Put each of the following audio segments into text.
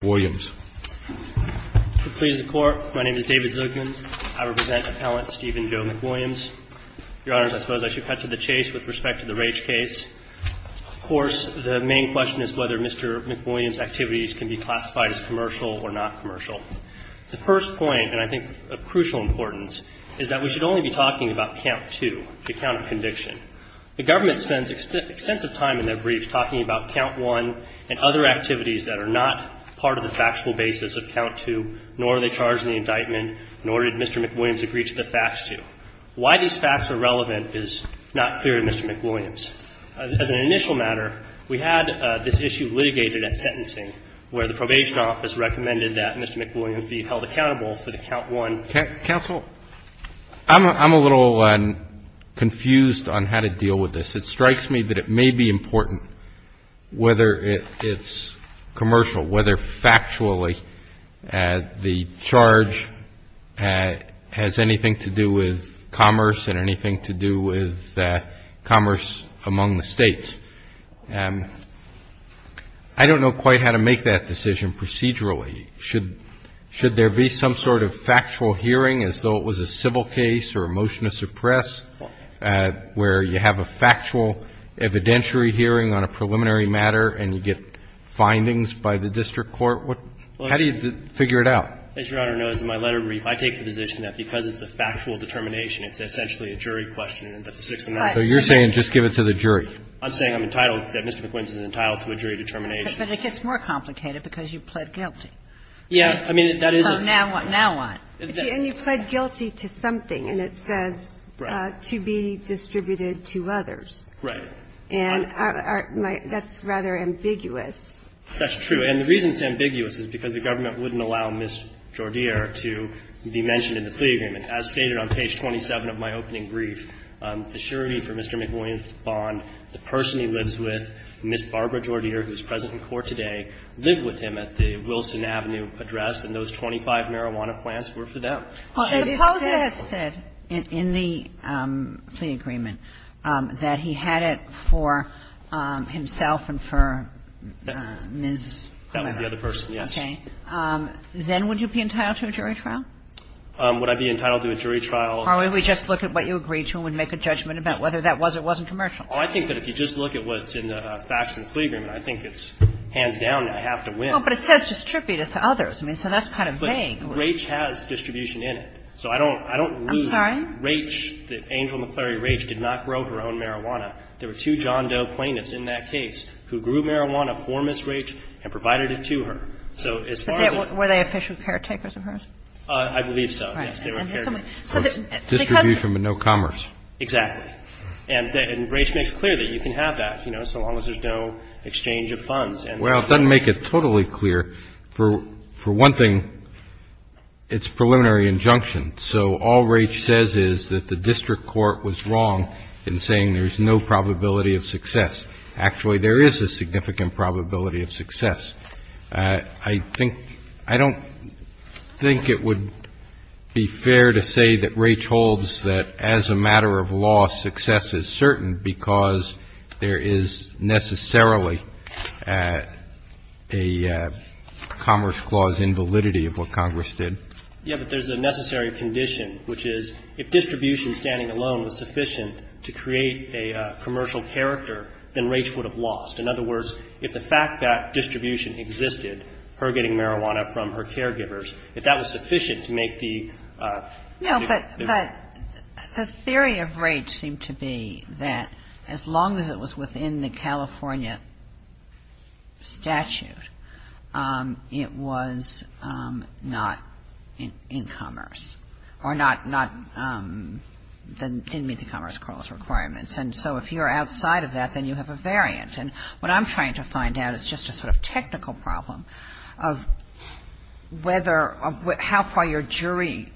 My name is David Zuckman. I represent Appellant Steven Joe McWilliams. Your Honors, I suppose I should cut to the chase with respect to the Rage case. Of course, the main question is whether Mr. McWilliams' activities can be classified as commercial or not commercial. The first point, and I think of crucial importance, is that we should only be talking about Count 2, the account of conviction. The government spends extensive time in their brief talking about Count 1 and other activities that are not part of the factual basis of Count 2, nor are they charged in the indictment, nor did Mr. McWilliams agree to the facts to. Why these facts are relevant is not clear to Mr. McWilliams. As an initial matter, we had this issue litigated at sentencing, where the probation office recommended that Mr. McWilliams be held accountable for the Count 1. CHIEF JUSTICE ROBERTS, D.C. Council, I'm a little confused on how to deal with this. It strikes me that it may be important, whether it's commercial, whether factually the charge has anything to do with commerce and anything to do with commerce among the states. I don't know quite how to make that decision procedurally. Should there be some sort of factual hearing as though it was a civil case or a motion to suppress, where you have a factual evidentiary hearing on a preliminary matter and you get findings by the district court? How do you figure it out? As Your Honor knows, in my letter brief, I take the position that because it's a factual determination, it's essentially a jury question and it's a six-and-a-half. So you're saying just give it to the jury? I'm saying I'm entitled, that Mr. McWilliams is entitled to a jury determination. But it gets more complicated because you pled guilty. Yeah. I mean, that is a ---- So now what? Now what? And you pled guilty to something, and it says to be distributed to others. Right. And that's rather ambiguous. That's true. And the reason it's ambiguous is because the government wouldn't allow Ms. Jordier to be mentioned in the plea agreement. As stated on page 27 of my opening brief, the surety for Mr. McWilliams' bond, the person he lives with, Ms. Barbara Jordier, who is present in court today, lived with him at the Wilson Avenue address, and those 25 marijuana plants were for them. Well, if it had said in the plea agreement that he had it for himself and for Ms. That was the other person, yes. Okay. Then would you be entitled to a jury trial? Would I be entitled to a jury trial? Or would we just look at what you agreed to and make a judgment about whether that was or wasn't commercial? Well, I think that if you just look at what's in the facts in the plea agreement, I think it's hands down that I have to win. But it says distributed to others. I mean, so that's kind of vague. But Raich has distribution in it. So I don't leave Raich, that Angel McClary Raich did not grow her own marijuana. There were two John Doe plaintiffs in that case who grew marijuana for Ms. Raich and provided it to her. So as far as the Were they official caretakers of hers? I believe so, yes. Distribution but no commerce. Exactly. And Raich makes clear that you can have that, you know, so long as there's no exchange of funds. Well, it doesn't make it totally clear. For one thing, it's preliminary injunction. So all Raich says is that the district court was wrong in saying there's no probability of success. Actually, there is a significant probability of success. I think, I don't think it would be fair to say that Raich holds that as a matter of law, success is certain because there is necessarily a commerce clause invalidity of what Congress did. Yeah, but there's a necessary condition, which is if distribution standing alone was sufficient to create a commercial character, then Raich would have lost. In other words, if the fact that distribution existed, her getting marijuana from her caregivers, if that was sufficient to make the No, but the theory of Raich seemed to be that as long as it was within the California statute, it was not in commerce or not, didn't meet the commerce clause requirements. And so if you're outside of that, then you have a variant. And what I'm trying to find out is just a sort of technical problem of whether, how far your jury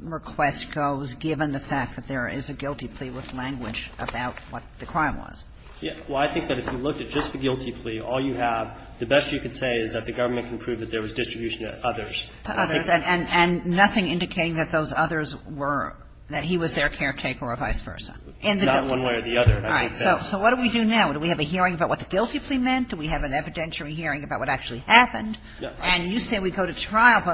request goes given the fact that there is a guilty plea with language about what the crime was. Yeah. Well, I think that if you looked at just the guilty plea, all you have, the best you could say is that the government can prove that there was distribution to others. To others, and nothing indicating that those others were, that he was their caretaker or vice versa. Not one way or the other. All right. So what do we do now? Do we have a hearing about what the guilty plea meant? Do we have an evidentiary hearing about what actually happened? And you say we go to trial,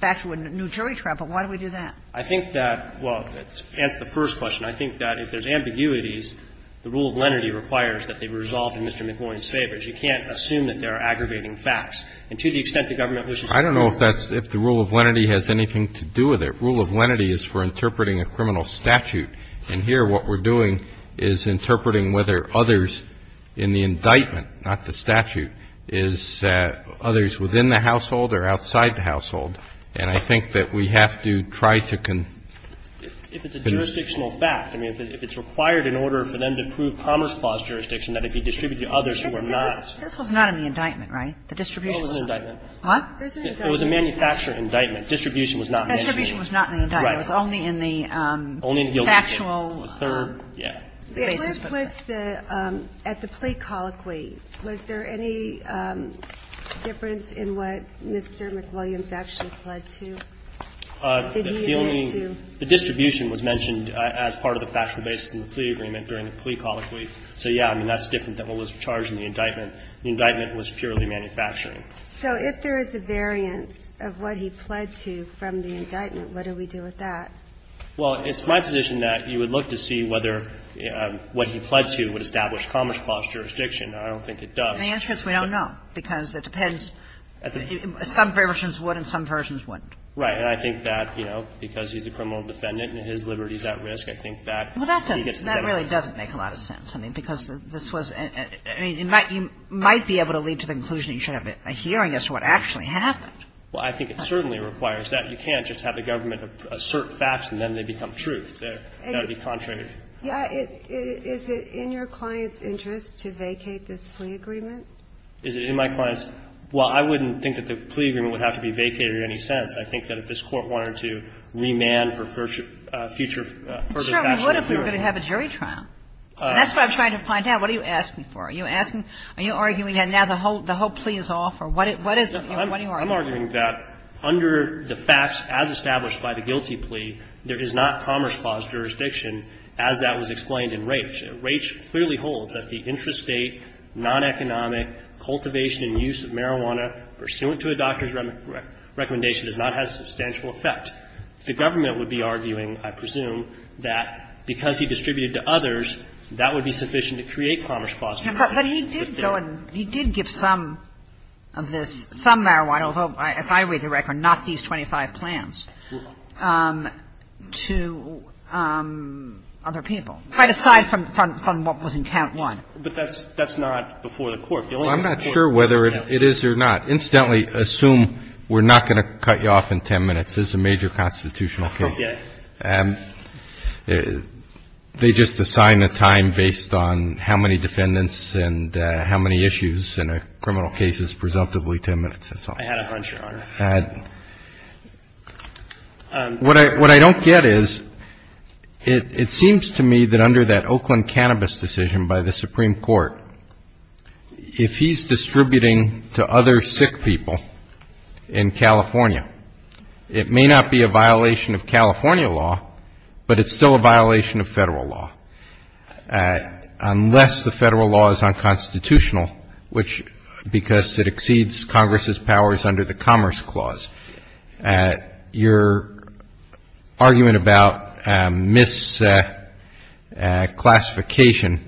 back to a new jury trial, but why do we do that? I think that, well, to answer the first question, I think that if there's ambiguities, the rule of lenity requires that they be resolved in Mr. McMillan's favor. You can't assume that there are aggravating facts. And to the extent the government wishes to prove it. I don't know if that's, if the rule of lenity has anything to do with it. Rule of lenity is for interpreting a criminal statute. And here what we're doing is interpreting whether others in the indictment not the statute, is others within the household or outside the household. And I think that we have to try to convince. If it's a jurisdictional fact, I mean, if it's required in order for them to prove Commerce Clause jurisdiction, that it be distributed to others who are not. This was not in the indictment, right? The distribution was not. No, it was in the indictment. What? There's an indictment. It was a manufacturer indictment. Distribution was not in the indictment. Distribution was not in the indictment. Right. It was only in the factual basis. Only in the third, yeah. The basis was the, at the plea colloquy, was there any difference in what Mr. McWilliams actually pled to? The distribution was mentioned as part of the factual basis in the plea agreement during the plea colloquy. So, yeah, I mean, that's different than what was charged in the indictment. The indictment was purely manufacturing. So if there is a variance of what he pled to from the indictment, what do we do with that? Well, it's my position that you would look to see whether what he pled to would establish commerce clause jurisdiction. I don't think it does. The answer is we don't know, because it depends. Some versions would and some versions wouldn't. Right. And I think that, you know, because he's a criminal defendant and his liberty is at risk, I think that he gets the benefit. Well, that doesn't – that really doesn't make a lot of sense. I mean, because this was – I mean, you might be able to lead to the conclusion that you should have a hearing as to what actually happened. Well, I think it certainly requires that. You can't just have the government assert facts and then they become truth. That would be contrary. Yeah. Is it in your client's interest to vacate this plea agreement? Is it in my client's – well, I wouldn't think that the plea agreement would have to be vacated in any sense. I think that if this Court wanted to remand for future – further action, it would. I'm sure it would if we were going to have a jury trial. That's what I'm trying to find out. What are you asking for? Are you asking – are you arguing that now the whole plea is off, or what is it? I'm arguing that under the facts as established by the guilty plea, there is not commerce clause jurisdiction as that was explained in Raich. Raich clearly holds that the intrastate, non-economic cultivation and use of marijuana pursuant to a doctor's recommendation does not have substantial effect. The government would be arguing, I presume, that because he distributed to others, that would be sufficient to create commerce clause jurisdiction. But he did go and – he did give some of this – some marijuana, as I read the record, not these 25 plans, to other people, right aside from what was in count one. But that's not before the Court. The only thing the Court can do now is to say, well, I'm not sure whether it is or not. Incidentally, assume we're not going to cut you off in 10 minutes. This is a major constitutional case. Okay. They just assign a time based on how many defendants and how many issues in a criminal case is presumptively 10 minutes, that's all. I had a hunch, Your Honor. What I don't get is, it seems to me that under that Oakland cannabis decision by the Supreme Court, if he's distributing to other sick people in California, it may not be a violation of California law, but it's still a violation of Federal law, unless the Federal law is unconstitutional, which – because it exceeds Congress's powers under the Commerce Clause. Your argument about misclassification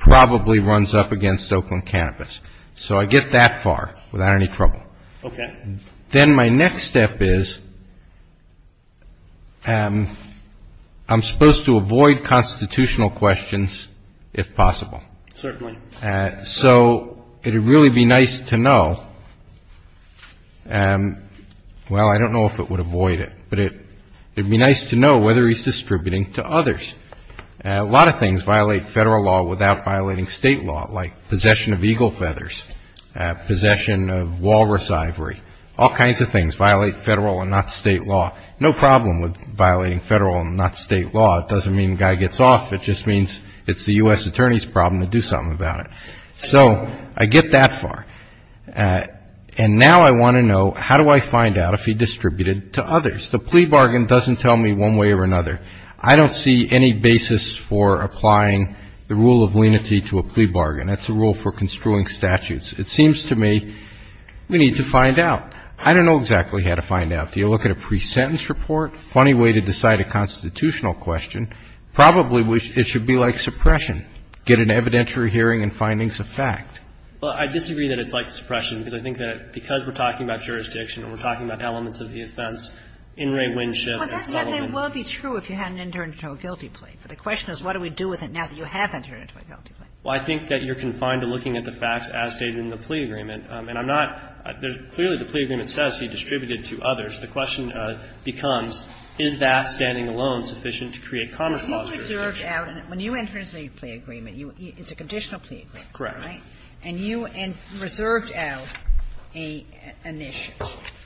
probably runs up against Oakland cannabis. So I get that far without any trouble. Okay. Then my next step is, I'm supposed to avoid constitutional questions, if possible. Certainly. So it would really be nice to know – well, I don't know if it would avoid it, but it would be nice to know whether he's distributing to others. A lot of things violate Federal law without violating State law, like possession of eagle feathers, possession of walrus ivory, all kinds of things violate Federal and not State law. No problem with violating Federal and not State law. It doesn't mean the guy gets off. It just means it's the U.S. Attorney's problem to do something about it. So I get that far. And now I want to know, how do I find out if he distributed to others? The plea bargain doesn't tell me one way or another. I don't see any basis for applying the rule of lenity to a plea bargain. That's a rule for construing statutes. It seems to me we need to find out. I don't know exactly how to find out. Do you look at a pre-sentence report? Funny way to decide a constitutional question. Probably it should be like suppression, get an evidentiary hearing and findings of fact. Well, I disagree that it's like suppression, because I think that because we're talking about jurisdiction and we're talking about elements of the offense, In re Winship and Sullivan. But that may well be true if you had an internal guilty plea. But the question is, what do we do with it now that you have internal guilty plea? Well, I think that you're confined to looking at the facts as stated in the plea agreement. And I'm not – clearly the plea agreement says he distributed to others. The question becomes, is that standing alone sufficient to create common cause jurisdiction? When you enter into a plea agreement, it's a conditional plea agreement, right? Correct. And you reserved out an issue.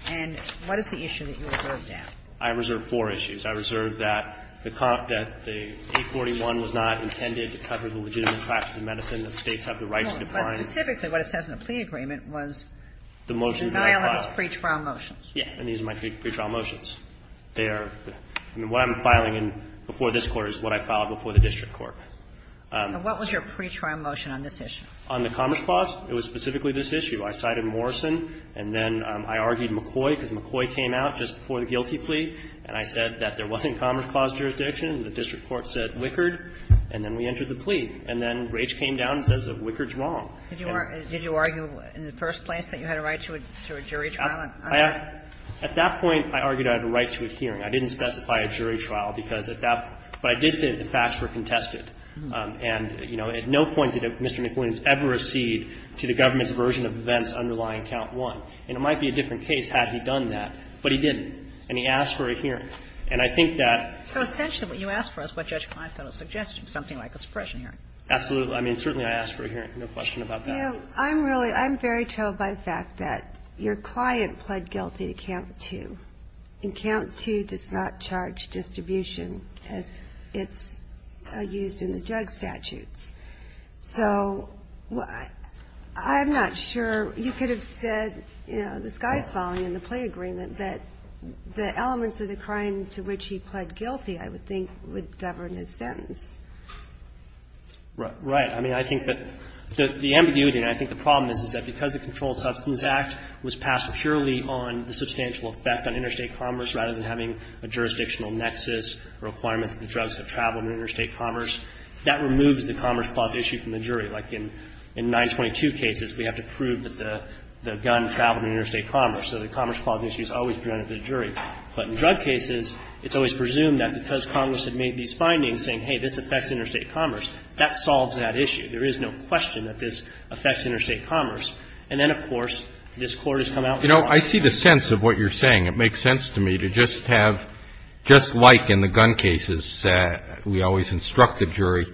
And what is the issue that you reserved out? I reserved four issues. I reserved that the 841 was not intended to cover the legitimate practice of medicine that States have the right to define. No, but specifically what it says in the plea agreement was the violence pre-trial motions. Yes. And these are my pre-trial motions. They are – what I'm filing in before this Court is what I filed before the district court. And what was your pre-trial motion on this issue? On the Commerce Clause, it was specifically this issue. I cited Morrison, and then I argued McCoy, because McCoy came out just before the guilty plea, and I said that there wasn't Commerce Clause jurisdiction. The district court said Wickard, and then we entered the plea. And then Raich came down and says that Wickard's wrong. Did you argue in the first place that you had a right to a jury trial? At that point, I argued I had a right to a hearing. I didn't specify a jury trial, because at that – but I did say that the facts were contested. And, you know, at no point did Mr. McWilliams ever accede to the government's version of events underlying Count 1. And it might be a different case had he done that, but he didn't. And he asked for a hearing. And I think that – So essentially what you asked for is what Judge Klinefeld is suggesting, something like a suppression hearing. Absolutely. I mean, certainly I asked for a hearing, no question about that. I'm really – I'm very told by the fact that your client pled guilty to Count 2. And Count 2 does not charge distribution as it's used in the drug statutes. So I'm not sure – you could have said, you know, the sky's falling in the plea agreement, but the elements of the crime to which he pled guilty, I would think, would govern his sentence. Right. I mean, I think that the ambiguity, and I think the problem is, is that because the Controlled Substance Act was passed purely on the substantial effect on interstate commerce rather than having a jurisdictional nexus requirement that the drugs have traveled in interstate commerce, that removes the Commerce Clause issue from the jury. Like in 922 cases, we have to prove that the gun traveled in interstate commerce, so the Commerce Clause issue is always presented to the jury. But in drug cases, it's always presumed that because Congress had made these findings saying, hey, this affects interstate commerce, that solves that issue. There is no question that this affects interstate commerce. And then, of course, this Court has come out with a law. You know, I see the sense of what you're saying. It makes sense to me to just have – just like in the gun cases, we always instruct the jury.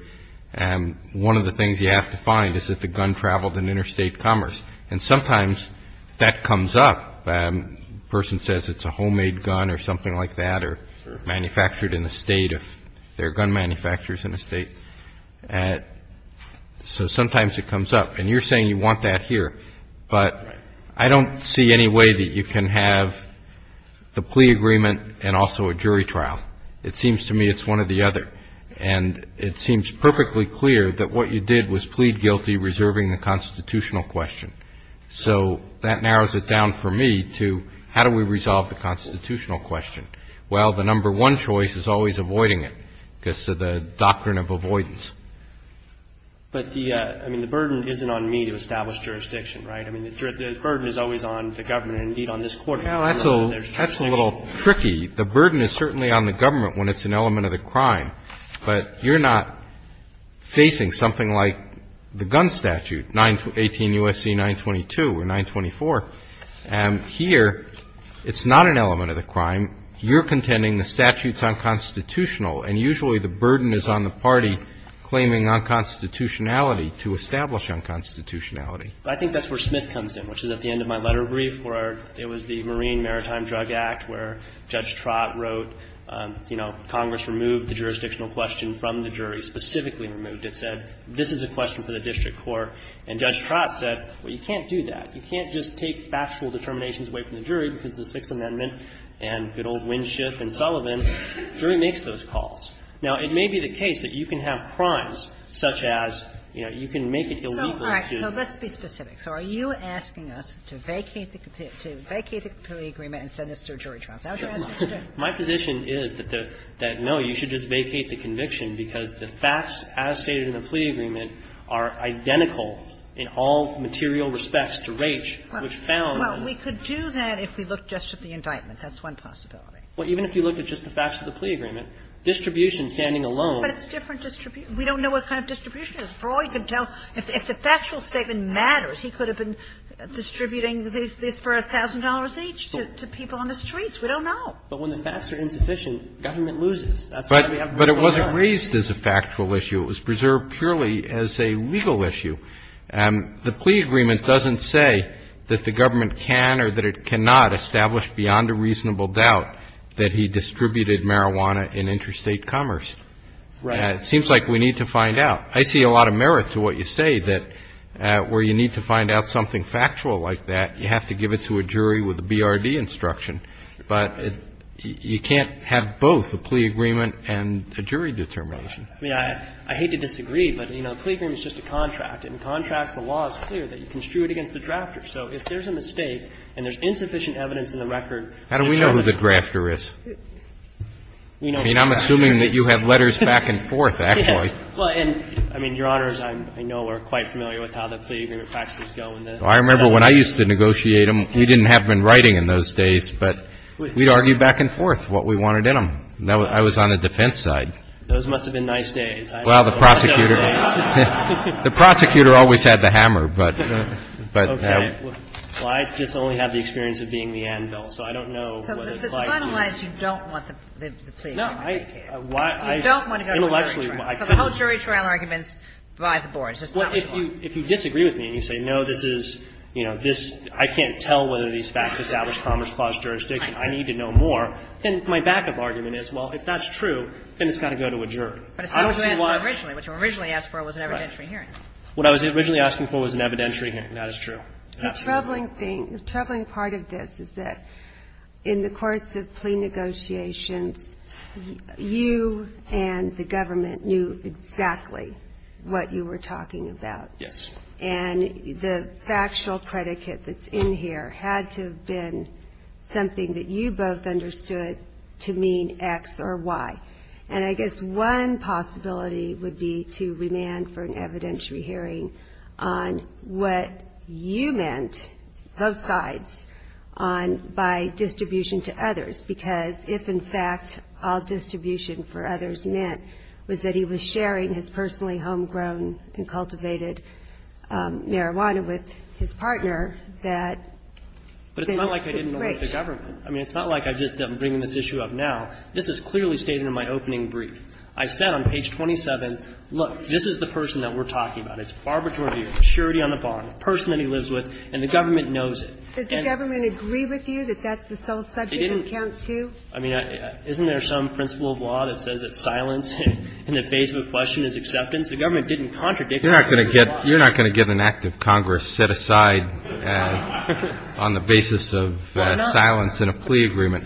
One of the things you have to find is that the gun traveled in interstate commerce. And sometimes that comes up. A person says it's a homemade gun or something like that or manufactured in the State. There are gun manufacturers in the State. So sometimes it comes up. And you're saying you want that here, but I don't see any way that you can have the plea agreement and also a jury trial. It seems to me it's one or the other. And it seems perfectly clear that what you did was plead guilty reserving the constitutional question. So that narrows it down for me to how do we resolve the constitutional question? Well, the number one choice is always avoiding it because of the doctrine of avoidance. GOLDSTEIN. But the – I mean, the burden isn't on me to establish jurisdiction, right? I mean, the burden is always on the government and, indeed, on this Court. CHIEF JUSTICE ROBERTS. That's a little tricky. The burden is certainly on the government when it's an element of the crime. But you're not facing something like the gun statute, 18 U.S.C. 922 or 924. And here, it's not an element of the crime. You're contending the statute's unconstitutional. And usually the burden is on the party claiming unconstitutionality to establish unconstitutionality. GOLDSTEIN. I think that's where Smith comes in, which is at the end of my letter brief where it was the Marine Maritime Drug Act where Judge Trott wrote, you know, Congress removed the jurisdictional question from the jury, specifically removed it, said, this is a question for the district court. And Judge Trott said, well, you can't do that. You can't just take factual determinations away from the jury because of the Sixth Amendment and good old Winship and Sullivan. The jury makes those calls. Now, it may be the case that you can have crimes such as, you know, you can make it illegal to do. Kagan. So let's be specific. So are you asking us to vacate the plea agreement and send this to a jury trial? Is that what you're asking? GOLDSTEIN. My position is that, no, you should just vacate the conviction because the facts, as stated in the plea agreement, are identical in all material respects to Raich, which found that the jury should not be able to do that. Kagan. Well, we could do that if we looked just at the indictment. That's one possibility. GOLDSTEIN. Well, even if you look at just the facts of the plea agreement, distribution standing alone. Kagan. But it's different distribution. We don't know what kind of distribution it is. For all you can tell, if the factual statement matters, he could have been distributing this for $1,000 each to people on the streets. We don't know. GOLDSTEIN. But when the facts are insufficient, government loses. That's why we have to move on. CHIEF JUSTICE ROBERTS. But it wasn't raised as a factual issue. It was preserved purely as a legal issue. The plea agreement doesn't say that the government can or that it cannot establish beyond a reasonable doubt that he distributed marijuana in interstate commerce. GOLDSTEIN. Right. CHIEF JUSTICE ROBERTS. It seems like we need to find out. I see a lot of merit to what you say, that where you need to find out something factual like that, you have to give it to a jury with a BRD instruction. But you can't have both a plea agreement and a jury determination. GOLDSTEIN. I mean, I hate to disagree, but, you know, a plea agreement is just a contract. In contracts, the law is clear that you construe it against the drafter. So if there's a mistake and there's insufficient evidence in the record, it's up to the jury. CHIEF JUSTICE ROBERTS. How do we know who the drafter is? I mean, I'm assuming that you have letters back and forth, actually. GOLDSTEIN. Well, and, I mean, Your Honors, I know we're quite familiar with how the plea agreement practices go in this. CHIEF JUSTICE ROBERTS. I remember when I used to negotiate them. We didn't have been writing in those days, but we'd argue back and forth what we wanted in them. I was on the defense side. GOLDSTEIN. Those must have been nice days. CHIEF JUSTICE ROBERTS. Well, the prosecutor always had the hammer, but. GOLDSTEIN. Okay. Well, I just only have the experience of being the anvil, so I don't know what it's like to. KAGAN. So to finalize, you don't want the plea agreement to be here. GOLDSTEIN. No, I. KAGAN. You don't want to go to a jury trial. Intellectually, I couldn't. KAGAN. So the whole jury trial argument's by the board. It's just not what you want. GOLDSTEIN. I don't know whether these facts establish commerce clause jurisdiction. I need to know more. And my backup argument is, well, if that's true, then it's got to go to a jury. I don't see why. KAGAN. But it's not what you asked for originally. What you originally asked for was an evidentiary hearing. GOLDSTEIN. Right. What I was originally asking for was an evidentiary hearing. That is true. Absolutely. GINSBURG. The troubling thing, the troubling part of this is that in the course of plea negotiations, you and the government knew exactly what you were talking about. GOLDSTEIN. Yes. GINSBURG. And the factual predicate that's in here had to have been something that you both understood to mean X or Y. And I guess one possibility would be to remand for an evidentiary hearing on what you meant, both sides, on by distribution to others. Because if, in fact, all distribution for others meant was that he was sharing his personally homegrown and cultivated marijuana with his partner, that then it would break. GOLDSTEIN. But it's not like I didn't elect the government. I mean, it's not like I just am bringing this issue up now. This is clearly stated in my opening brief. I said on page 27, look, this is the person that we're talking about. It's Barbara Jordan, surety on the bond, the person that he lives with. And the government knows it. GINSBURG. Does the government agree with you that that's the sole subject of count two? GOLDSTEIN. I mean, isn't there some principle of law that says that silence in the face of a question is acceptance? The government didn't contradict that. CHIEF JUSTICE ROBERTS. You're not going to get an act of Congress set aside on the basis of silence in a plea agreement.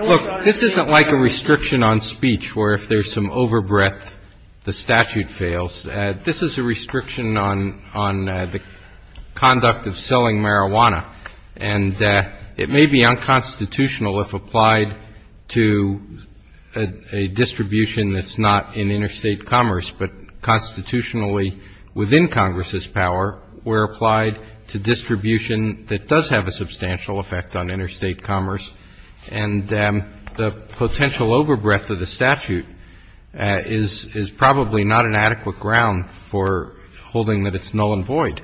Look, this isn't like a restriction on speech where if there's some overbreadth, the statute fails. This is a restriction on the conduct of selling marijuana. And it may be unconstitutional if applied to a distribution that's not in interstate commerce, but constitutionally within Congress's power, we're applied to distribution that does have a substantial effect on interstate commerce, and the potential overbreadth of the statute is probably not an adequate ground for holding that it's null and void.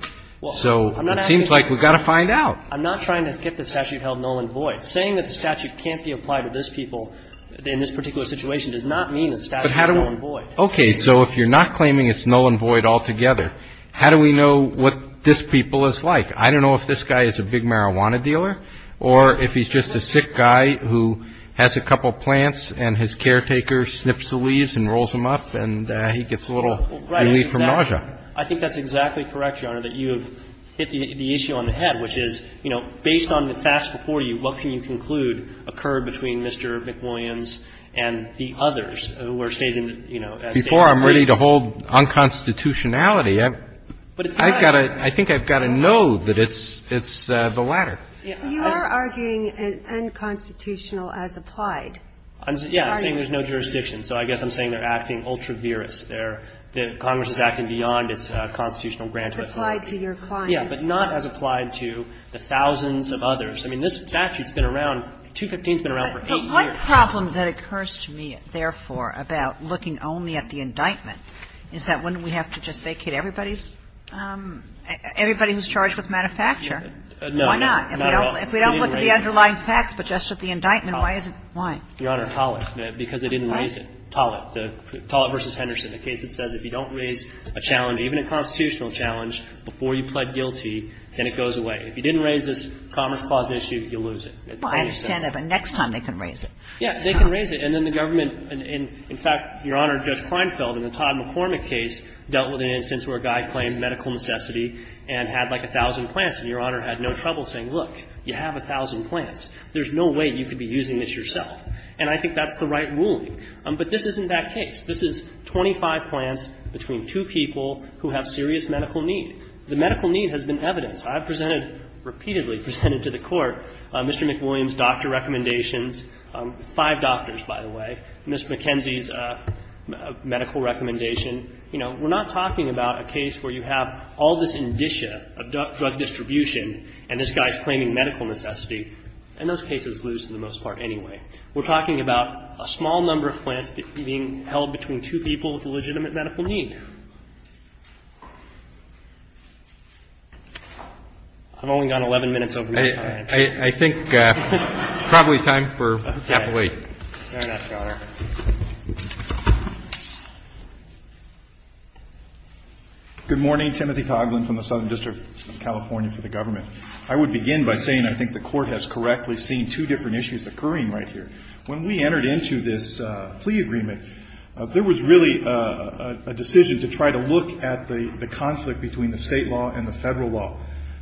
So it seems like we've got to find out. I'm not trying to skip the statute held null and void. Saying that the statute can't be applied to this people in this particular situation does not mean the statute is null and void. Okay. So if you're not claiming it's null and void altogether, how do we know what this people is like? I don't know if this guy is a big marijuana dealer or if he's just a sick guy who has a couple of plants and his caretaker sniffs the leaves and rolls them up and he gets a little relief from nausea. I think that's exactly correct, Your Honor, that you've hit the issue on the head, which is, you know, based on the facts before you, what can you conclude occurred between Mr. McWilliams and the others who were stated, you know, as being unconstitutional. Before I'm ready to hold unconstitutionality, I've got to – I think I've got to know that it's the latter. You are arguing unconstitutional as applied. Yeah. I'm saying there's no jurisdiction, so I guess I'm saying they're acting ultra-virus. They're – Congress is acting beyond its constitutional grounds. It's applied to your client. Yeah, but not as applied to the thousands of others. I mean, this statute's been around – 215's been around for 8 years. But one problem that occurs to me, therefore, about looking only at the indictment is that wouldn't we have to just vacate everybody's – everybody who's charged with manufacture? No. Why not? If we don't look at the underlying facts, but just at the indictment, why is it – why? Your Honor, Tollett, because they didn't raise it. Tollett. Tollett v. Henderson, the case that says if you don't raise a challenge, even a constitutional challenge, before you plead guilty, then it goes away. If you didn't raise this Commerce Clause issue, you lose it. Well, I understand that, but next time they can raise it. Yes, they can raise it. And then the government – in fact, Your Honor, Judge Kleinfeld in the Todd McCormick case dealt with an instance where a guy claimed medical necessity and had, like, 1,000 plants, and Your Honor had no trouble saying, look, you have 1,000 plants. There's no way you could be using this yourself. And I think that's the right ruling. But this isn't that case. This is 25 plants between two people who have serious medical need. The medical need has been evidenced. I've presented – repeatedly presented to the Court Mr. McWilliams' doctor recommendations – five doctors, by the way – and Ms. McKenzie's medical recommendation. You know, we're not talking about a case where you have all this indicia of drug distribution and this guy's claiming medical necessity, and those cases lose for the most part anyway. We're talking about a small number of plants being held between two people with a legitimate medical need. I've only got 11 minutes over my time. I think probably time for capital eight. Fair enough, Your Honor. Good morning. Timothy Coghlan from the Southern District of California for the Government. I would begin by saying I think the Court has correctly seen two different issues occurring right here. When we entered into this plea agreement, there was really a decision to try to look at the conflict between the State law and the Federal law.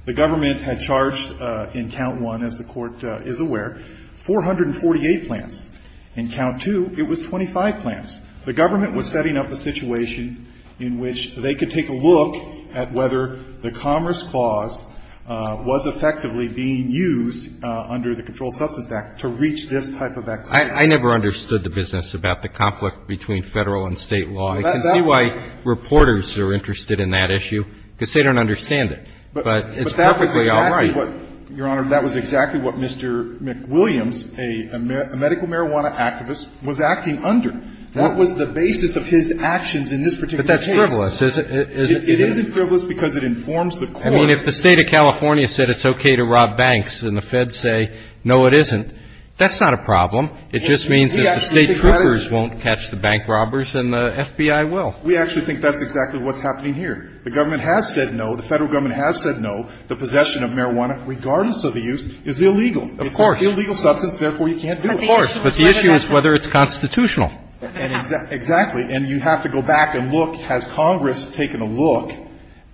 The Government had charged in count one, as the Court is aware, 448 plants. In count two, it was 25 plants. The Government was setting up a situation in which they could take a look at whether the Commerce Clause was effectively being used under the Controlled Substance Act to reach this type of activity. I never understood the business about the conflict between Federal and State law. I can see why reporters are interested in that issue, because they don't understand But it's perfectly all right. But that was exactly what, Your Honor, that was exactly what Mr. McWilliams, a medical marijuana activist, was acting under. That was the basis of his actions in this particular case. But that's frivolous. It isn't frivolous because it informs the Court. I mean, if the State of California said it's okay to rob banks and the Feds say no, it isn't, that's not a problem. It just means that the State troopers won't catch the bank robbers and the FBI will. We actually think that's exactly what's happening here. The Government has said no, the Federal Government has said no. The possession of marijuana, regardless of the use, is illegal. Of course. It's an illegal substance, therefore you can't do it. Of course. But the issue is whether it's constitutional. Exactly. And you have to go back and look, has Congress taken a look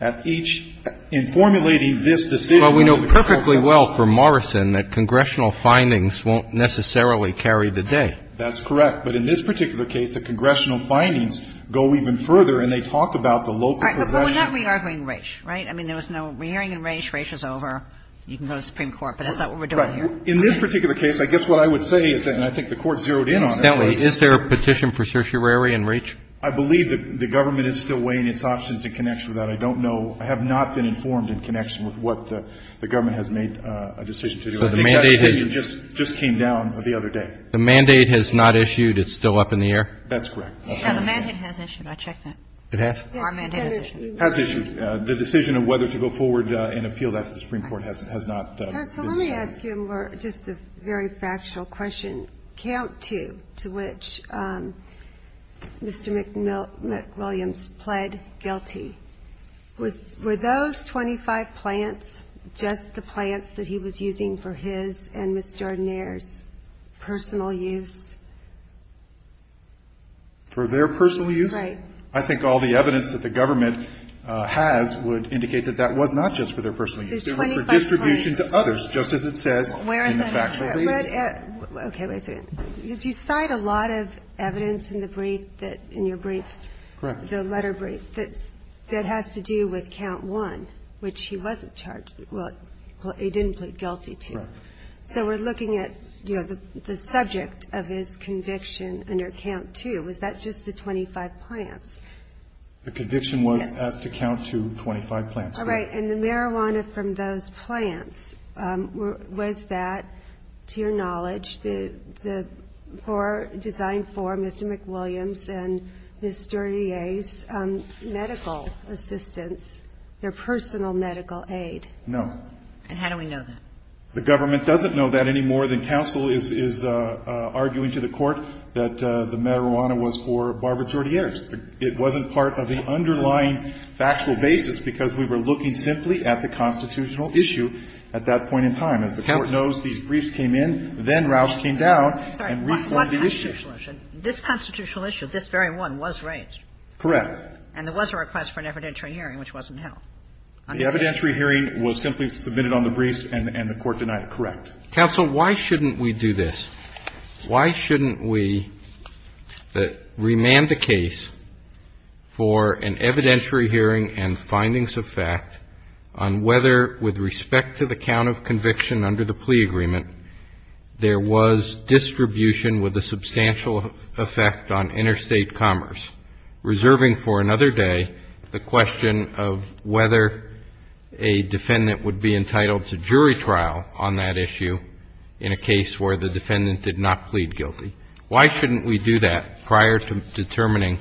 at each, in formulating this decision on the controls of marijuana. Well, we know perfectly well from Morrison that congressional findings won't necessarily carry the day. That's correct. But in this particular case, the congressional findings go even further, and they talk about the local possession. All right. But we're not re-arguing Raich, right? I mean, there was no re-arguing Raich. Raich is over. You can go to the Supreme Court, but that's not what we're doing here. Right. In this particular case, I guess what I would say is that, and I think the Court zeroed in on it, is that Raich is over. I believe that the government is still weighing its options in connection with that. I don't know. I have not been informed in connection with what the government has made a decision to do. I think that opinion just came down the other day. The mandate has not issued. It's still up in the air. That's correct. Yeah, the mandate has issued. I checked that. It has? Our mandate has issued. Has issued. The decision of whether to go forward and appeal that to the Supreme Court has not been issued. Counsel, let me ask you just a very factual question. Count two to which Mr. McWilliams pled guilty, were those 25 plants just the plants that he was using for his and Ms. Jardiner's personal use? For their personal use? Right. I think all the evidence that the government has would indicate that that was not just for their personal use. It was for distribution to others, just as it says in the factual basis. Okay. Wait a second. Because you cite a lot of evidence in the brief that – in your brief, the letter brief, that has to do with count one, which he wasn't charged – well, he didn't plead guilty to. Correct. So we're looking at, you know, the subject of his conviction under count two. Was that just the 25 plants? The conviction was as to count to 25 plants. Right. And the marijuana from those plants, was that, to your knowledge, the – for – designed for Mr. McWilliams and Ms. Jardiner's medical assistance, their personal medical aid? No. And how do we know that? The government doesn't know that any more than counsel is arguing to the Court that the marijuana was for Barbara Jardiner's. It wasn't part of the underlying factual basis, because we were looking simply at the constitutional issue at that point in time. As the Court knows, these briefs came in, then Roush came down and reformed the issue. This constitutional issue, this very one, was raised. Correct. And there was a request for an evidentiary hearing, which wasn't held. The evidentiary hearing was simply submitted on the briefs and the Court denied it. Correct. Counsel, why shouldn't we do this? Why shouldn't we remand the case for an evidentiary hearing and findings of fact on whether, with respect to the count of conviction under the plea agreement, there was distribution with a substantial effect on interstate commerce, reserving for another day the question of whether a defendant would be entitled to jury trial on that issue in a case where the defendant did not plead guilty? Why shouldn't we do that prior to determining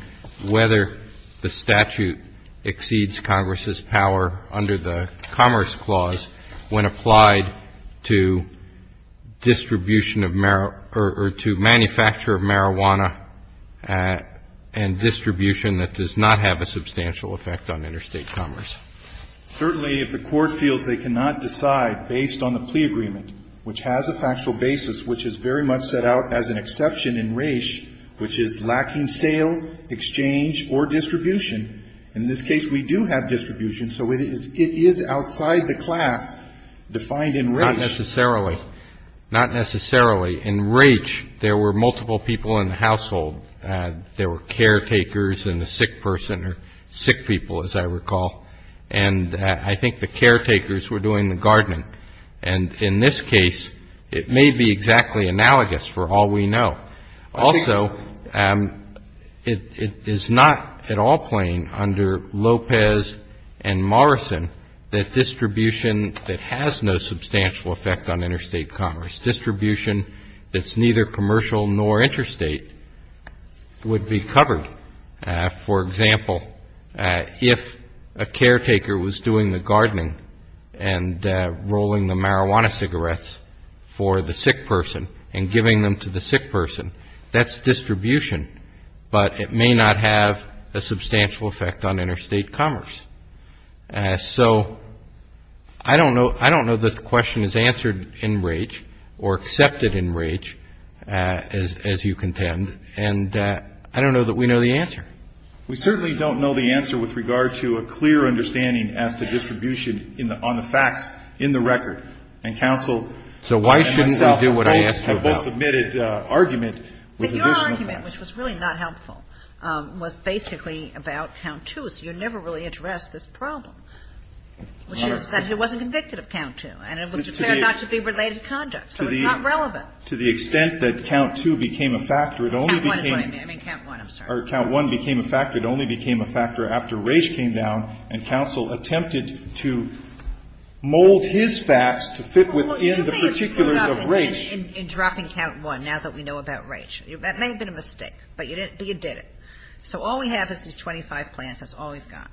whether the statute exceeds Congress's power under the Commerce Clause when applied to distribution of marijuana or to manufacture of marijuana and distribution that does not have a substantial effect on interstate commerce? Certainly, if the Court feels they cannot decide based on the plea agreement, which has a factual basis which is very much set out as an exception in Raich, which is lacking sale, exchange, or distribution, in this case we do have distribution, so it is outside the class defined in Raich. Not necessarily. Not necessarily. In Raich, there were multiple people in the household. There were caretakers and the sick person or sick people, as I recall. And I think the caretakers were doing the gardening. And in this case, it may be exactly analogous for all we know. Also, it is not at all plain under Lopez and Morrison that distribution that has no substantial effect on interstate commerce, distribution that's neither commercial nor interstate, would be covered. For example, if a caretaker was doing the gardening and rolling the marijuana cigarettes for the sick person and giving them to the sick person, that's distribution. But it may not have a substantial effect on interstate commerce. So, I don't know that the question is answered in Raich or accepted in Raich, as you contend. And I don't know that we know the answer. We certainly don't know the answer with regard to a clear understanding as to distribution on the facts in the record. And counsel and myself have both submitted argument with additional facts. But your argument, which was really not helpful, was basically about count two. So you never really addressed this problem, which is that he wasn't convicted of count two. And it was declared not to be related conduct. So it's not relevant. To the extent that count two became a factor, it only became a factor after Raich came down and counsel attempted to mold his facts to fit within the particulars of Raich. You may have screwed up in dropping count one, now that we know about Raich. That may have been a mistake. But you did it. So all we have is these 25 plans. That's all we've got.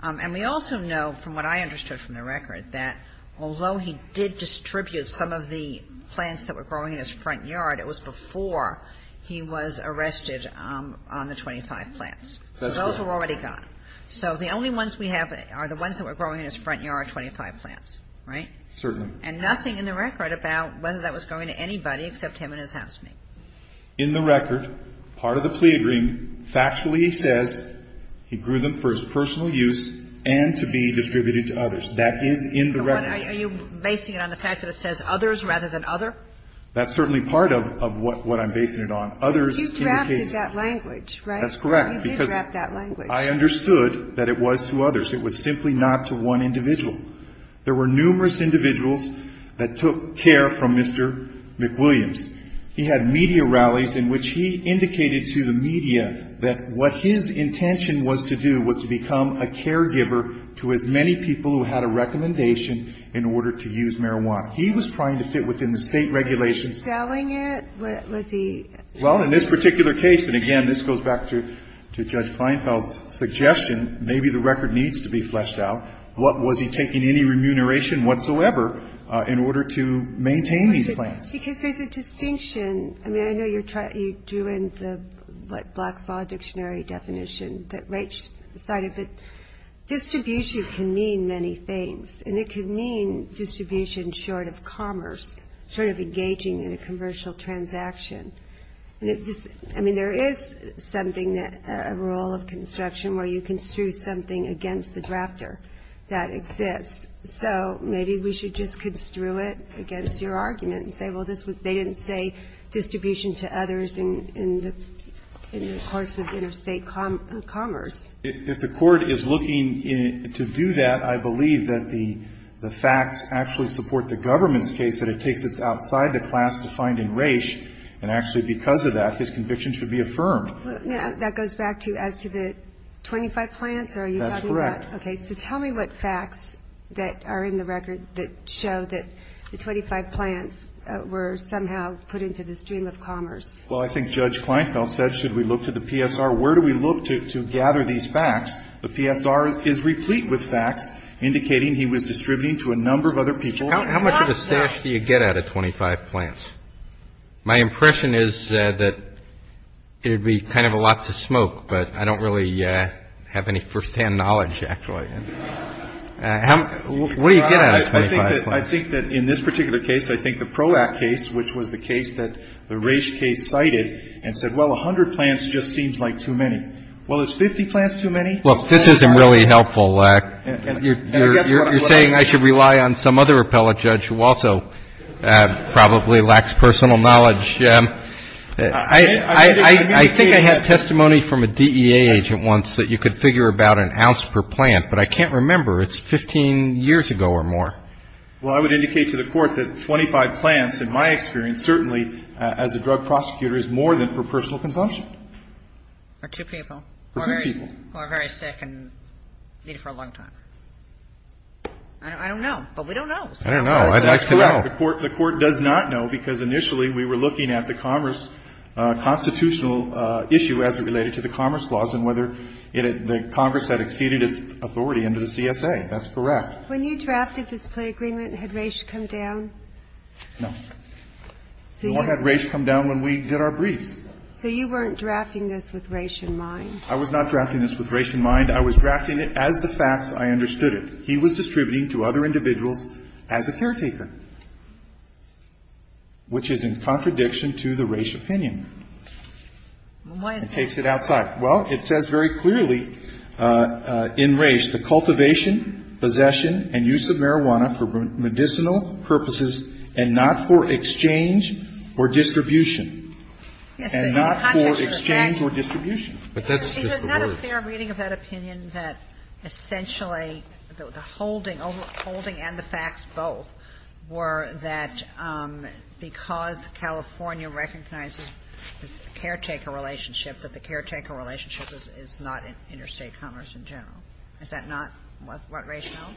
And we also know, from what I understood from the record, that although he did distribute some of the plans that were growing in his front yard, it was before he was arrested on the 25 plans. Those were already gone. So the only ones we have are the ones that were growing in his front yard, 25 plans. Right? Certainly. And nothing in the record about whether that was going to anybody except him and his housemaid. In the record, part of the plea agreement, factually he says he grew them for his personal use and to be distributed to others. That is in the record. Are you basing it on the fact that it says others rather than other? That's certainly part of what I'm basing it on. Others indicate that. But you drafted that language, right? That's correct. You did draft that language. I understood that it was to others. It was simply not to one individual. There were numerous individuals that took care from Mr. McWilliams. He had media rallies in which he indicated to the media that what his intention was to do was to become a caregiver to as many people who had a recommendation in order to use marijuana. He was trying to fit within the state regulations. Selling it? Was he? Well, in this particular case, and again, this goes back to Judge Kleinfeld's suggestion, maybe the record needs to be fleshed out. What was he taking any remuneration whatsoever in order to maintain these plans? Because there's a distinction. I mean, I know you drew in the Black's Law Dictionary definition that Rach decided. But distribution can mean many things. And it can mean distribution short of commerce, short of engaging in a commercial transaction. I mean, there is a rule of construction where you construe something against the drafter that exists. So maybe we should just construe it against your argument and say, well, they didn't say distribution to others in the course of interstate commerce. If the court is looking to do that, I believe that the facts actually support the government's case that it takes its outside the class to find in Rach. And actually, because of that, his conviction should be affirmed. That goes back to as to the 25 plants? That's correct. OK. So tell me what facts that are in the record that show that the 25 plants were somehow put into the stream of commerce? Well, I think Judge Kleinfeld said, should we look to the PSR? Where do we look to gather these facts? The PSR is replete with facts indicating he was distributing to a number of other people. How much of a stash do you get out of 25 plants? My impression is that it would be kind of a lot to smoke. But I don't really have any firsthand knowledge, actually. And what do you get out of 25 plants? I think that in this particular case, I think the PROACT case, which was the case that the Rach case cited and said, well, 100 plants just seems like too many. Well, it's 50 plants too many. Well, this isn't really helpful. You're saying I should rely on some other appellate judge who also probably lacks personal knowledge. I think I had testimony from a DEA agent once that you could figure about an ounce per plant, but I can't remember. It's 15 years ago or more. Well, I would indicate to the Court that 25 plants, in my experience, certainly, as a drug prosecutor, is more than for personal consumption. For two people? For two people. Who are very sick and need it for a long time. I don't know. But we don't know. I don't know. I'd like to know. The Court does not know because initially we were looking at the Congress constitutional issue as it related to the Commerce Clause and whether the Congress had exceeded its authority under the CSA. That's correct. When you drafted this plea agreement, had Raich come down? No. Nor had Raich come down when we did our briefs. So you weren't drafting this with Raich in mind? I was not drafting this with Raich in mind. I was drafting it as the facts. I understood it. He was distributing to other individuals as a caretaker, which is in contradiction to the Raich opinion and takes it outside. Well, it says very clearly in Raich, the cultivation, possession, and use of marijuana for medicinal purposes and not for exchange or distribution. And not for exchange or distribution. But that's just the words. But isn't that a fair reading of that opinion that essentially the holding, holding and the facts both, were that because California recognizes the caretaker relationship, that the caretaker relationship is not interstate commerce in general? Is that not what Raich held?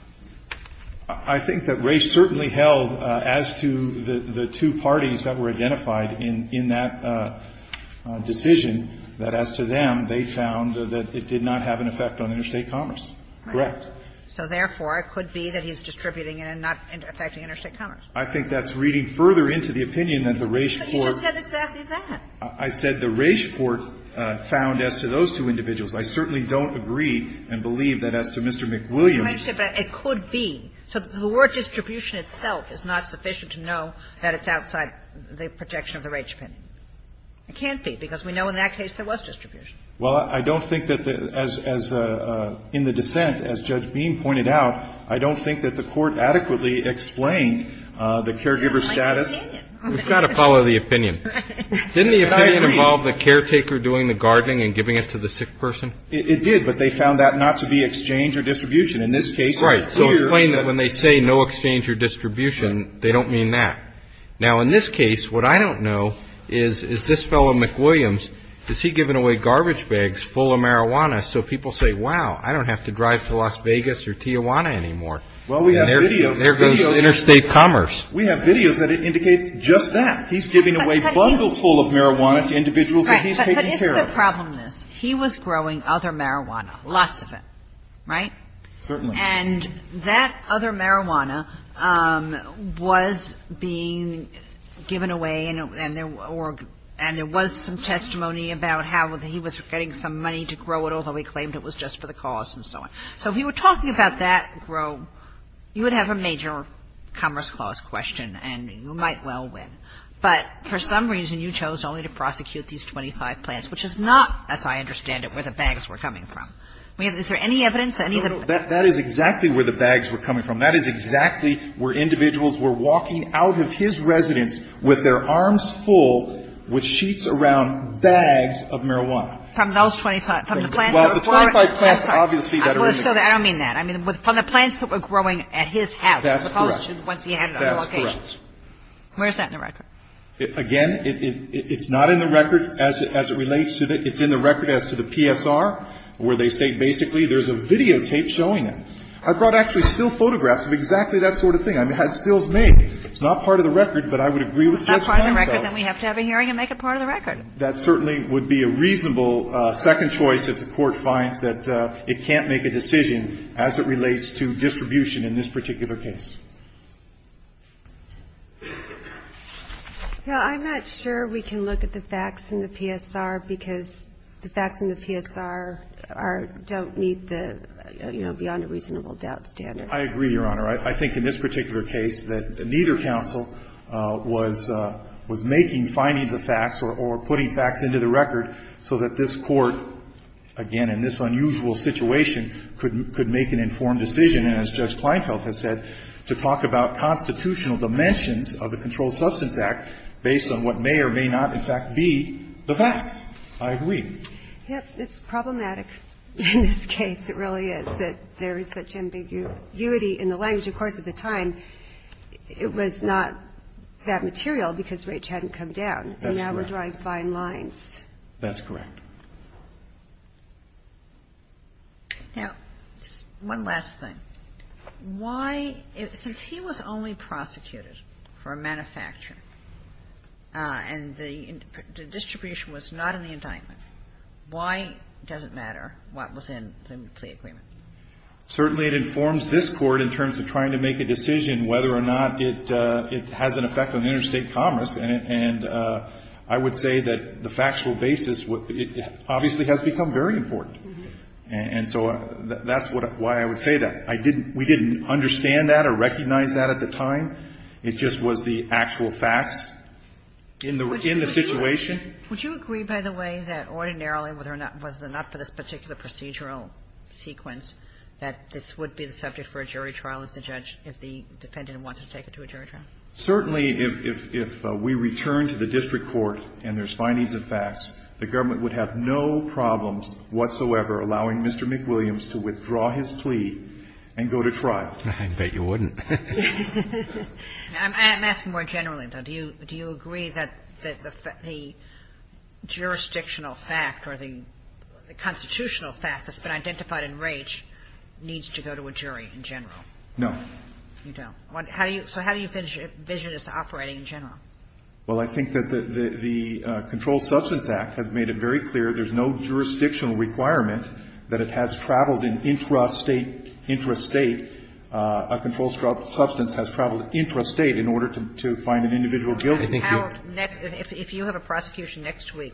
I think that Raich certainly held as to the two parties that were identified in that decision, that as to them, they found that it did not have an effect on interstate commerce. Correct. So therefore, it could be that he's distributing and not affecting interstate commerce. I think that's reading further into the opinion that the Raich Court. But you just said exactly that. I said the Raich Court found as to those two individuals. I certainly don't agree and believe that as to Mr. McWilliams. But it could be. So the word distribution itself is not sufficient to know that it's outside the projection of the Raich opinion. It can't be, because we know in that case there was distribution. Well, I don't think that, as in the dissent, as Judge Beam pointed out, I don't think that the Court adequately explained the caregiver status. We've got to follow the opinion. Didn't the opinion involve the caretaker doing the gardening and giving it to the sick person? It did, but they found that not to be exchange or distribution. In this case. Right. So explain that when they say no exchange or distribution, they don't mean that. Now, in this case, what I don't know is, is this fellow, McWilliams, is he giving away garbage bags full of marijuana so people say, wow, I don't have to drive to Las Vegas or Tijuana anymore. Well, we have videos. There goes interstate commerce. We have videos that indicate just that. He's giving away bundles full of marijuana to individuals that he's taking care of. But here's the problem with this. He was growing other marijuana, lots of it, right? Certainly. And that other marijuana was being given away, and there were or – and there was some testimony about how he was getting some money to grow it, although he claimed it was just for the cause and so on. So if you were talking about that grow, you would have a major Commerce Clause question, and you might well win. But for some reason, you chose only to prosecute these 25 plants, which is not, as I understand it, where the bags were coming from. We have – is there any evidence that any of the – That is exactly where the bags were coming from. That is exactly where individuals were walking out of his residence with their arms full with sheets around bags of marijuana. From those 25 – from the plants that were growing – Well, the 25 plants, obviously, that are in the – I don't mean that. I mean from the plants that were growing at his house, as opposed to once he had it at other locations. That's correct. And that's where the bag was. Where is that in the record? Again, it's not in the record as it relates to the – it's in the record as to the PSR, where they say basically there's a videotape showing it. I brought actually still photographs of exactly that sort of thing. I mean, I had stills made. It's not part of the record, but I would agree with Judge Kline about it. If it's not part of the record, then we have to have a hearing and make it part of the record. That certainly would be a reasonable second choice if the Court finds that it can't make a decision as it relates to distribution in this particular case. Now, I'm not sure we can look at the facts in the PSR because the facts in the PSR are – don't meet the, you know, beyond a reasonable doubt standard. I agree, Your Honor. I think in this particular case that neither counsel was making findings of facts or putting facts into the record so that this Court, again, in this unusual situation, could make an informed decision. And as Judge Kleinfeld has said, to talk about constitutional dimensions of the Controlled Substance Act based on what may or may not in fact be the facts. I agree. Yeah. It's problematic in this case. It really is, that there is such ambiguity in the language. Of course, at the time, it was not that material because Raich hadn't come down. That's correct. And now we're drawing fine lines. That's correct. Now, one last thing. Why – since he was only prosecuted for a manufacture and the distribution was not in the indictment, why does it matter what was in the plea agreement? Certainly, it informs this Court in terms of trying to make a decision whether or not it has an effect on interstate commerce. And I would say that the factual basis obviously has become very important. And so that's why I would say that. I didn't – we didn't understand that or recognize that at the time. It just was the actual facts in the situation. Would you agree, by the way, that ordinarily, whether or not – was it not for this particular procedural sequence, that this would be the subject for a jury trial if the judge – if the defendant wanted to take it to a jury trial? Certainly, if we returned to the district court and there's findings of facts, the government would have no problems whatsoever allowing Mr. McWilliams to withdraw his plea and go to trial. I bet you wouldn't. I'm asking more generally, though. Do you agree that the jurisdictional fact or the constitutional fact that's been identified in Raich needs to go to a jury in general? No. You don't. So how do you envision this operating in general? Well, I think that the Controlled Substance Act has made it very clear there's no jurisdictional requirement that it has traveled in intrastate – intrastate – a controlled substance has traveled intrastate in order to find an individual guilty. If you have a prosecution next week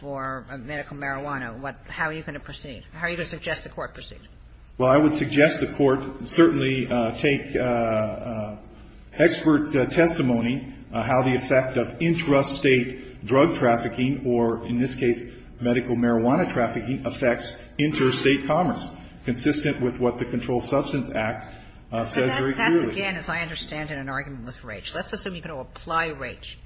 for medical marijuana, what – how are you going to proceed? How are you going to suggest the court proceed? Well, I would suggest the court certainly take expert testimony how the effect of intrastate drug trafficking or, in this case, medical marijuana trafficking affects interstate commerce, consistent with what the Controlled Substance Act says very clearly. But that's, again, as I understand it, an argument with Raich. Let's assume you're going to apply Raich.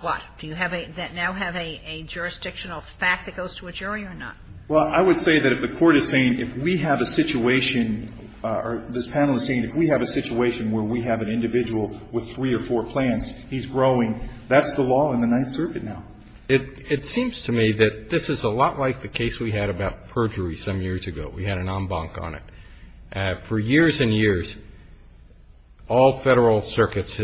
Why? Do you have a – now have a jurisdictional fact that goes to a jury or not? Well, I would say that if the court is saying if we have a situation – or this panel is saying if we have a situation where we have an individual with three or four plants, he's growing, that's the law in the Ninth Circuit now. It seems to me that this is a lot like the case we had about perjury some years ago. We had an en banc on it. For years and years, all Federal circuits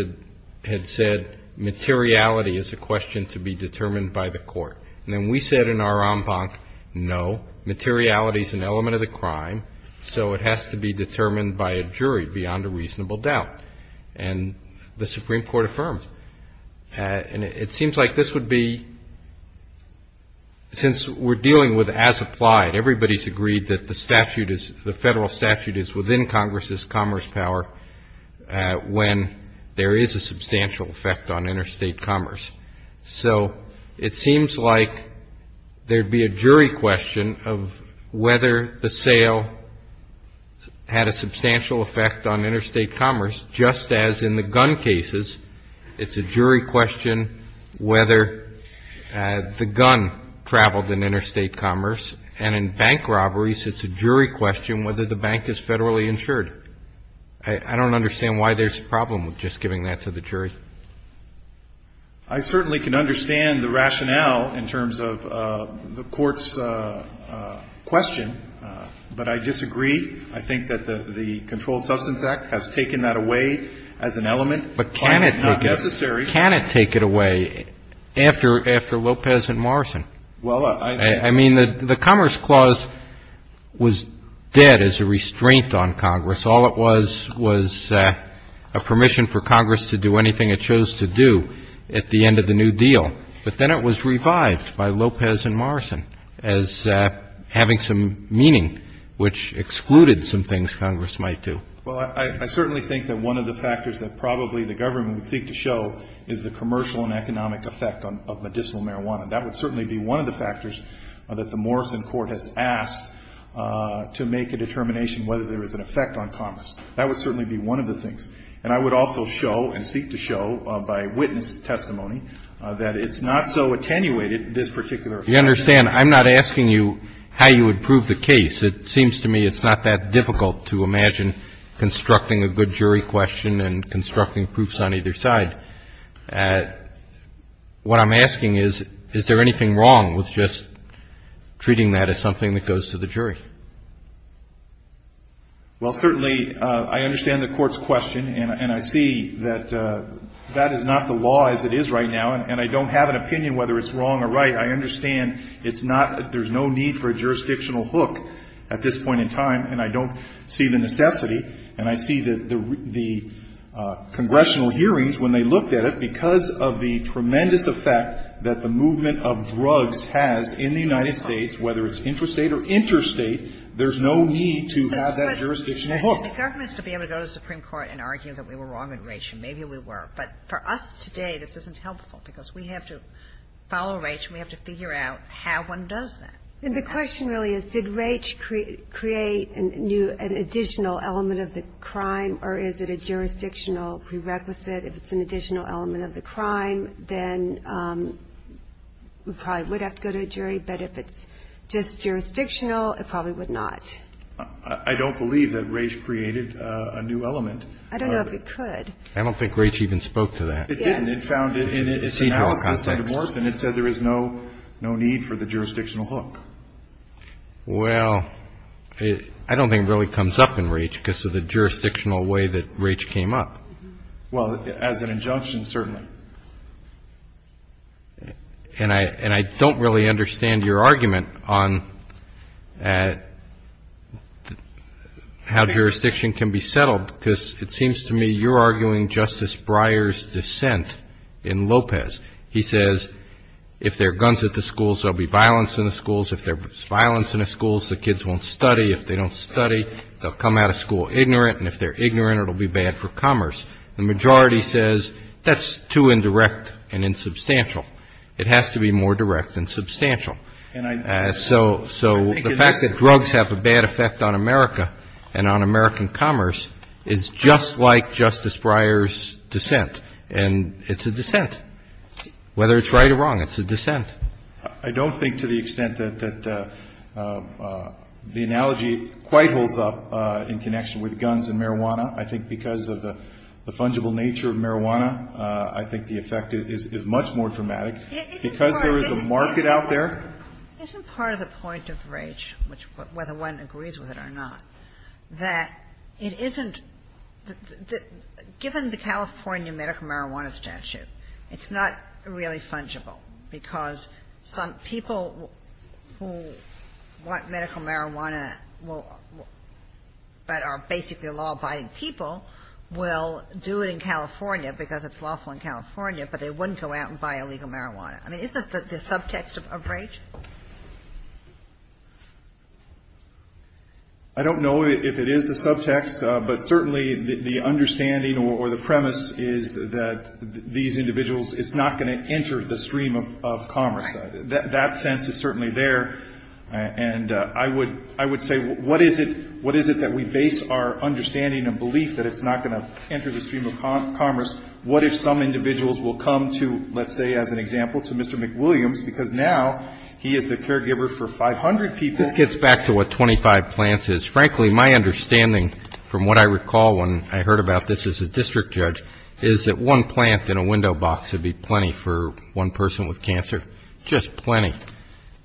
had said materiality is a question to be determined by the court. And then we said in our en banc, no, materiality is an element of the crime, so it has to be determined by a jury beyond a reasonable doubt. And the Supreme Court affirmed. And it seems like this would be – since we're dealing with as applied, everybody's agreed that the statute is – the Federal statute is within Congress's commerce power when there is a substantial effect on interstate commerce. So it seems like there would be a jury question of whether the sale had a substantial effect on interstate commerce, just as in the gun cases, it's a jury question whether the gun traveled in interstate commerce. And in bank robberies, it's a jury question whether the bank is Federally insured. I don't understand why there's a problem with just giving that to the jury. I certainly can understand the rationale in terms of the Court's question, but I disagree. I think that the Controlled Substance Act has taken that away as an element. But can it take it away after Lopez and Morrison? Well, I mean, the Commerce Clause was dead as a restraint on Congress. All it was was a permission for Congress to do anything it chose to do at the end of the New Deal. But then it was revived by Lopez and Morrison as having some meaning, which excluded some things Congress might do. Well, I certainly think that one of the factors that probably the government would seek to show is the commercial and economic effect of medicinal marijuana. That would certainly be one of the factors that the Morrison Court has asked to make a determination whether there is an effect on commerce. That would certainly be one of the things. And I would also show and seek to show by witness testimony that it's not so attenuated, this particular effect. You understand, I'm not asking you how you would prove the case. It seems to me it's not that difficult to imagine constructing a good jury question and constructing proofs on either side. What I'm asking is, is there anything wrong with just treating that as something that goes to the jury? Well, certainly I understand the Court's question, and I see that that is not the law as it is right now, and I don't have an opinion whether it's wrong or right. I understand it's not – there's no need for a jurisdictional hook at this point in time, and I don't see the necessity. And I see the congressional hearings, when they looked at it, because of the tremendous effect that the movement of drugs has in the United States, whether it's intrastate or interstate, there's no need to have that jurisdictional hook. The government should be able to go to the Supreme Court and argue that we were wrong with Raich, and maybe we were. But for us today, this isn't helpful, because we have to follow Raich, and we have to figure out how one does that. And the question really is, did Raich create an additional element of the crime, or is it a jurisdictional prerequisite? If it's an additional element of the crime, then we probably would have to go to a jury. But if it's just jurisdictional, it probably would not. I don't believe that Raich created a new element. I don't know if it could. I don't think Raich even spoke to that. It didn't. It found it in its analysis of divorce, and it said there is no need for the jurisdictional hook. Well, I don't think it really comes up in Raich because of the jurisdictional way that Raich came up. Well, as an injunction, certainly. And I don't really understand your argument on how jurisdiction can be settled, because it seems to me you're arguing Justice Breyer's dissent in Lopez. He says if there are guns at the schools, there will be violence in the schools. If there is violence in the schools, the kids won't study. If they don't study, they'll come out of school ignorant, and if they're ignorant, it will be bad for commerce. The majority says that's too indirect and insubstantial. It has to be more direct and substantial. So the fact that drugs have a bad effect on America and on American commerce is just like Justice Breyer's dissent, and it's a dissent. Whether it's right or wrong, it's a dissent. I don't think to the extent that the analogy quite holds up in connection with guns and marijuana. I think because of the fungible nature of marijuana, I think the effect is much more dramatic. Because there is a market out there. Isn't part of the point of Raich, whether one agrees with it or not, that it isn't the – given the California medical marijuana statute, it's not really fungible, because some people who want medical marijuana but are basically law-abiding people will do it in California because it's lawful in California, but they wouldn't go out and buy illegal marijuana. I mean, isn't that the subtext of Raich? I don't know if it is the subtext, but certainly the understanding or the premise is that these individuals is not going to enter the stream of commerce. That sense is certainly there. And I would say what is it that we base our understanding and belief that it's not going to enter the stream of commerce? What if some individuals will come to, let's say, as an example, to Mr. McWilliams, because now he is the caregiver for 500 people. This gets back to what 25 plants is. Frankly, my understanding from what I recall when I heard about this as a district judge is that one plant in a window box would be plenty for one person with cancer. Just plenty.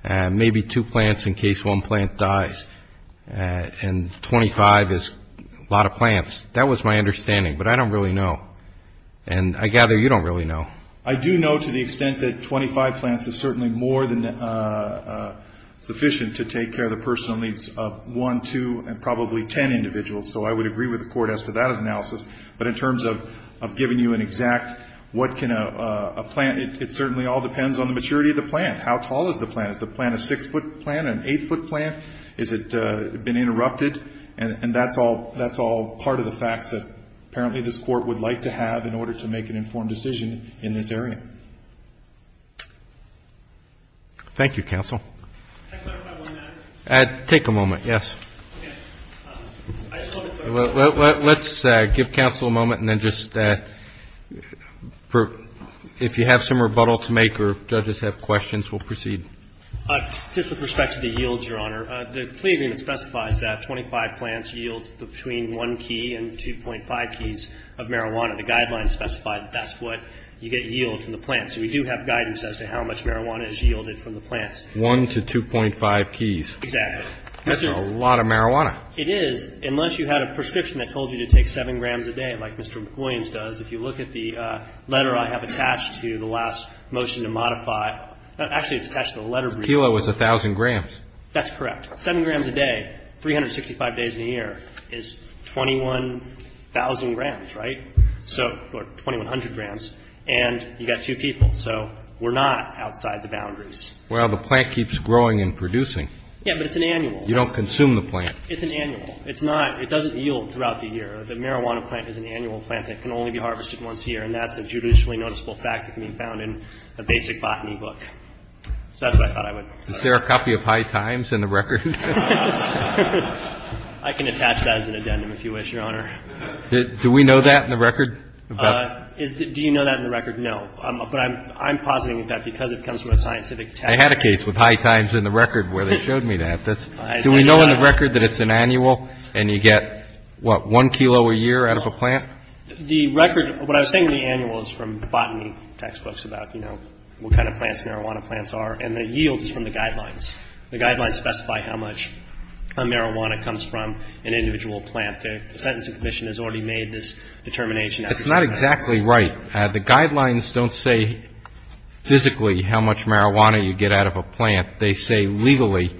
Maybe two plants in case one plant dies. And 25 is a lot of plants. That was my understanding, but I don't really know. And I gather you don't really know. I do know to the extent that 25 plants is certainly more than sufficient to take care of the personal needs of one, two, and probably ten individuals, so I would agree with the Court as to that analysis. But in terms of giving you an exact what can a plant, it certainly all depends on the maturity of the plant. How tall is the plant? Is the plant a six-foot plant, an eight-foot plant? Has it been interrupted? And that's all part of the facts that apparently this Court would like to have in order to make an informed decision in this area. Thank you, counsel. Take a moment, yes. Let's give counsel a moment and then just, if you have some rebuttal to make or judges have questions, we'll proceed. Just with respect to the yields, Your Honor, the plea agreement specifies that 25 plants yields between one key and 2.5 keys of marijuana. The guidelines specify that that's what you get yield from the plants. So we do have guidance as to how much marijuana is yielded from the plants. One to 2.5 keys. Exactly. That's a lot of marijuana. It is, unless you had a prescription that told you to take 7 grams a day like Mr. Williams does. If you look at the letter I have attached to the last motion to modify, actually it's attached to the letter. A kilo is 1,000 grams. That's correct. Seven grams a day, 365 days in a year is 21,000 grams, right? So, or 2,100 grams. And you've got two people. So we're not outside the boundaries. Well, the plant keeps growing and producing. Yeah, but it's an annual. You don't consume the plant. It's an annual. It's not, it doesn't yield throughout the year. The marijuana plant is an annual plant that can only be harvested once a year, and that's a judicially noticeable fact that can be found in a basic botany book. So that's what I thought I would. Is there a copy of High Times in the record? I can attach that as an addendum if you wish, Your Honor. Do we know that in the record? Do you know that in the record? No. But I'm positing that because it comes from a scientific test. I had a case with High Times in the record where they showed me that. Do we know in the record that it's an annual and you get, what, one kilo a year out of a plant? The record, what I was saying in the annual is from botany textbooks about, you know, what kind of plants marijuana plants are, and the yield is from the guidelines. The guidelines specify how much marijuana comes from an individual plant. The Sentencing Commission has already made this determination. That's not exactly right. The guidelines don't say physically how much marijuana you get out of a plant. They say legally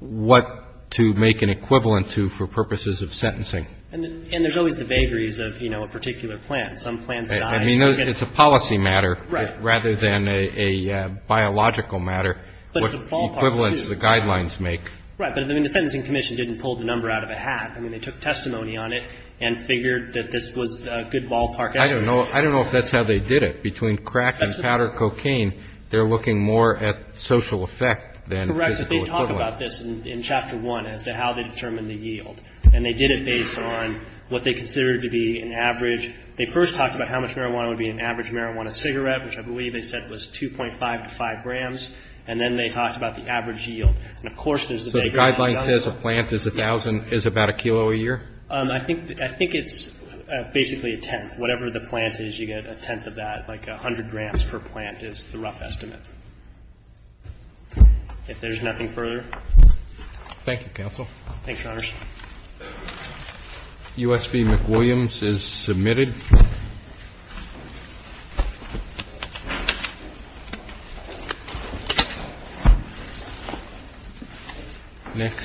what to make an equivalent to for purposes of sentencing. And there's always the vagaries of, you know, a particular plant. Some plants die. I mean, it's a policy matter rather than a biological matter. But it's a ballpark, too. Equivalence the guidelines make. Right. But, I mean, the Sentencing Commission didn't pull the number out of a hat. I mean, they took testimony on it and figured that this was a good ballpark estimate. I don't know if that's how they did it. Between crack and powder cocaine, they're looking more at social effect than physical equivalent. Correct, but they talk about this in Chapter 1 as to how they determined the yield. And they did it based on what they considered to be an average. They first talked about how much marijuana would be an average marijuana cigarette, which I believe they said was 2.5 to 5 grams. And then they talked about the average yield. So the guideline says a plant is about a kilo a year? I think it's basically a tenth. Whatever the plant is, you get a tenth of that. Like 100 grams per plant is the rough estimate. If there's nothing further. Thank you, Counsel. Thanks, Your Honors. USV McWilliams is submitted. Next.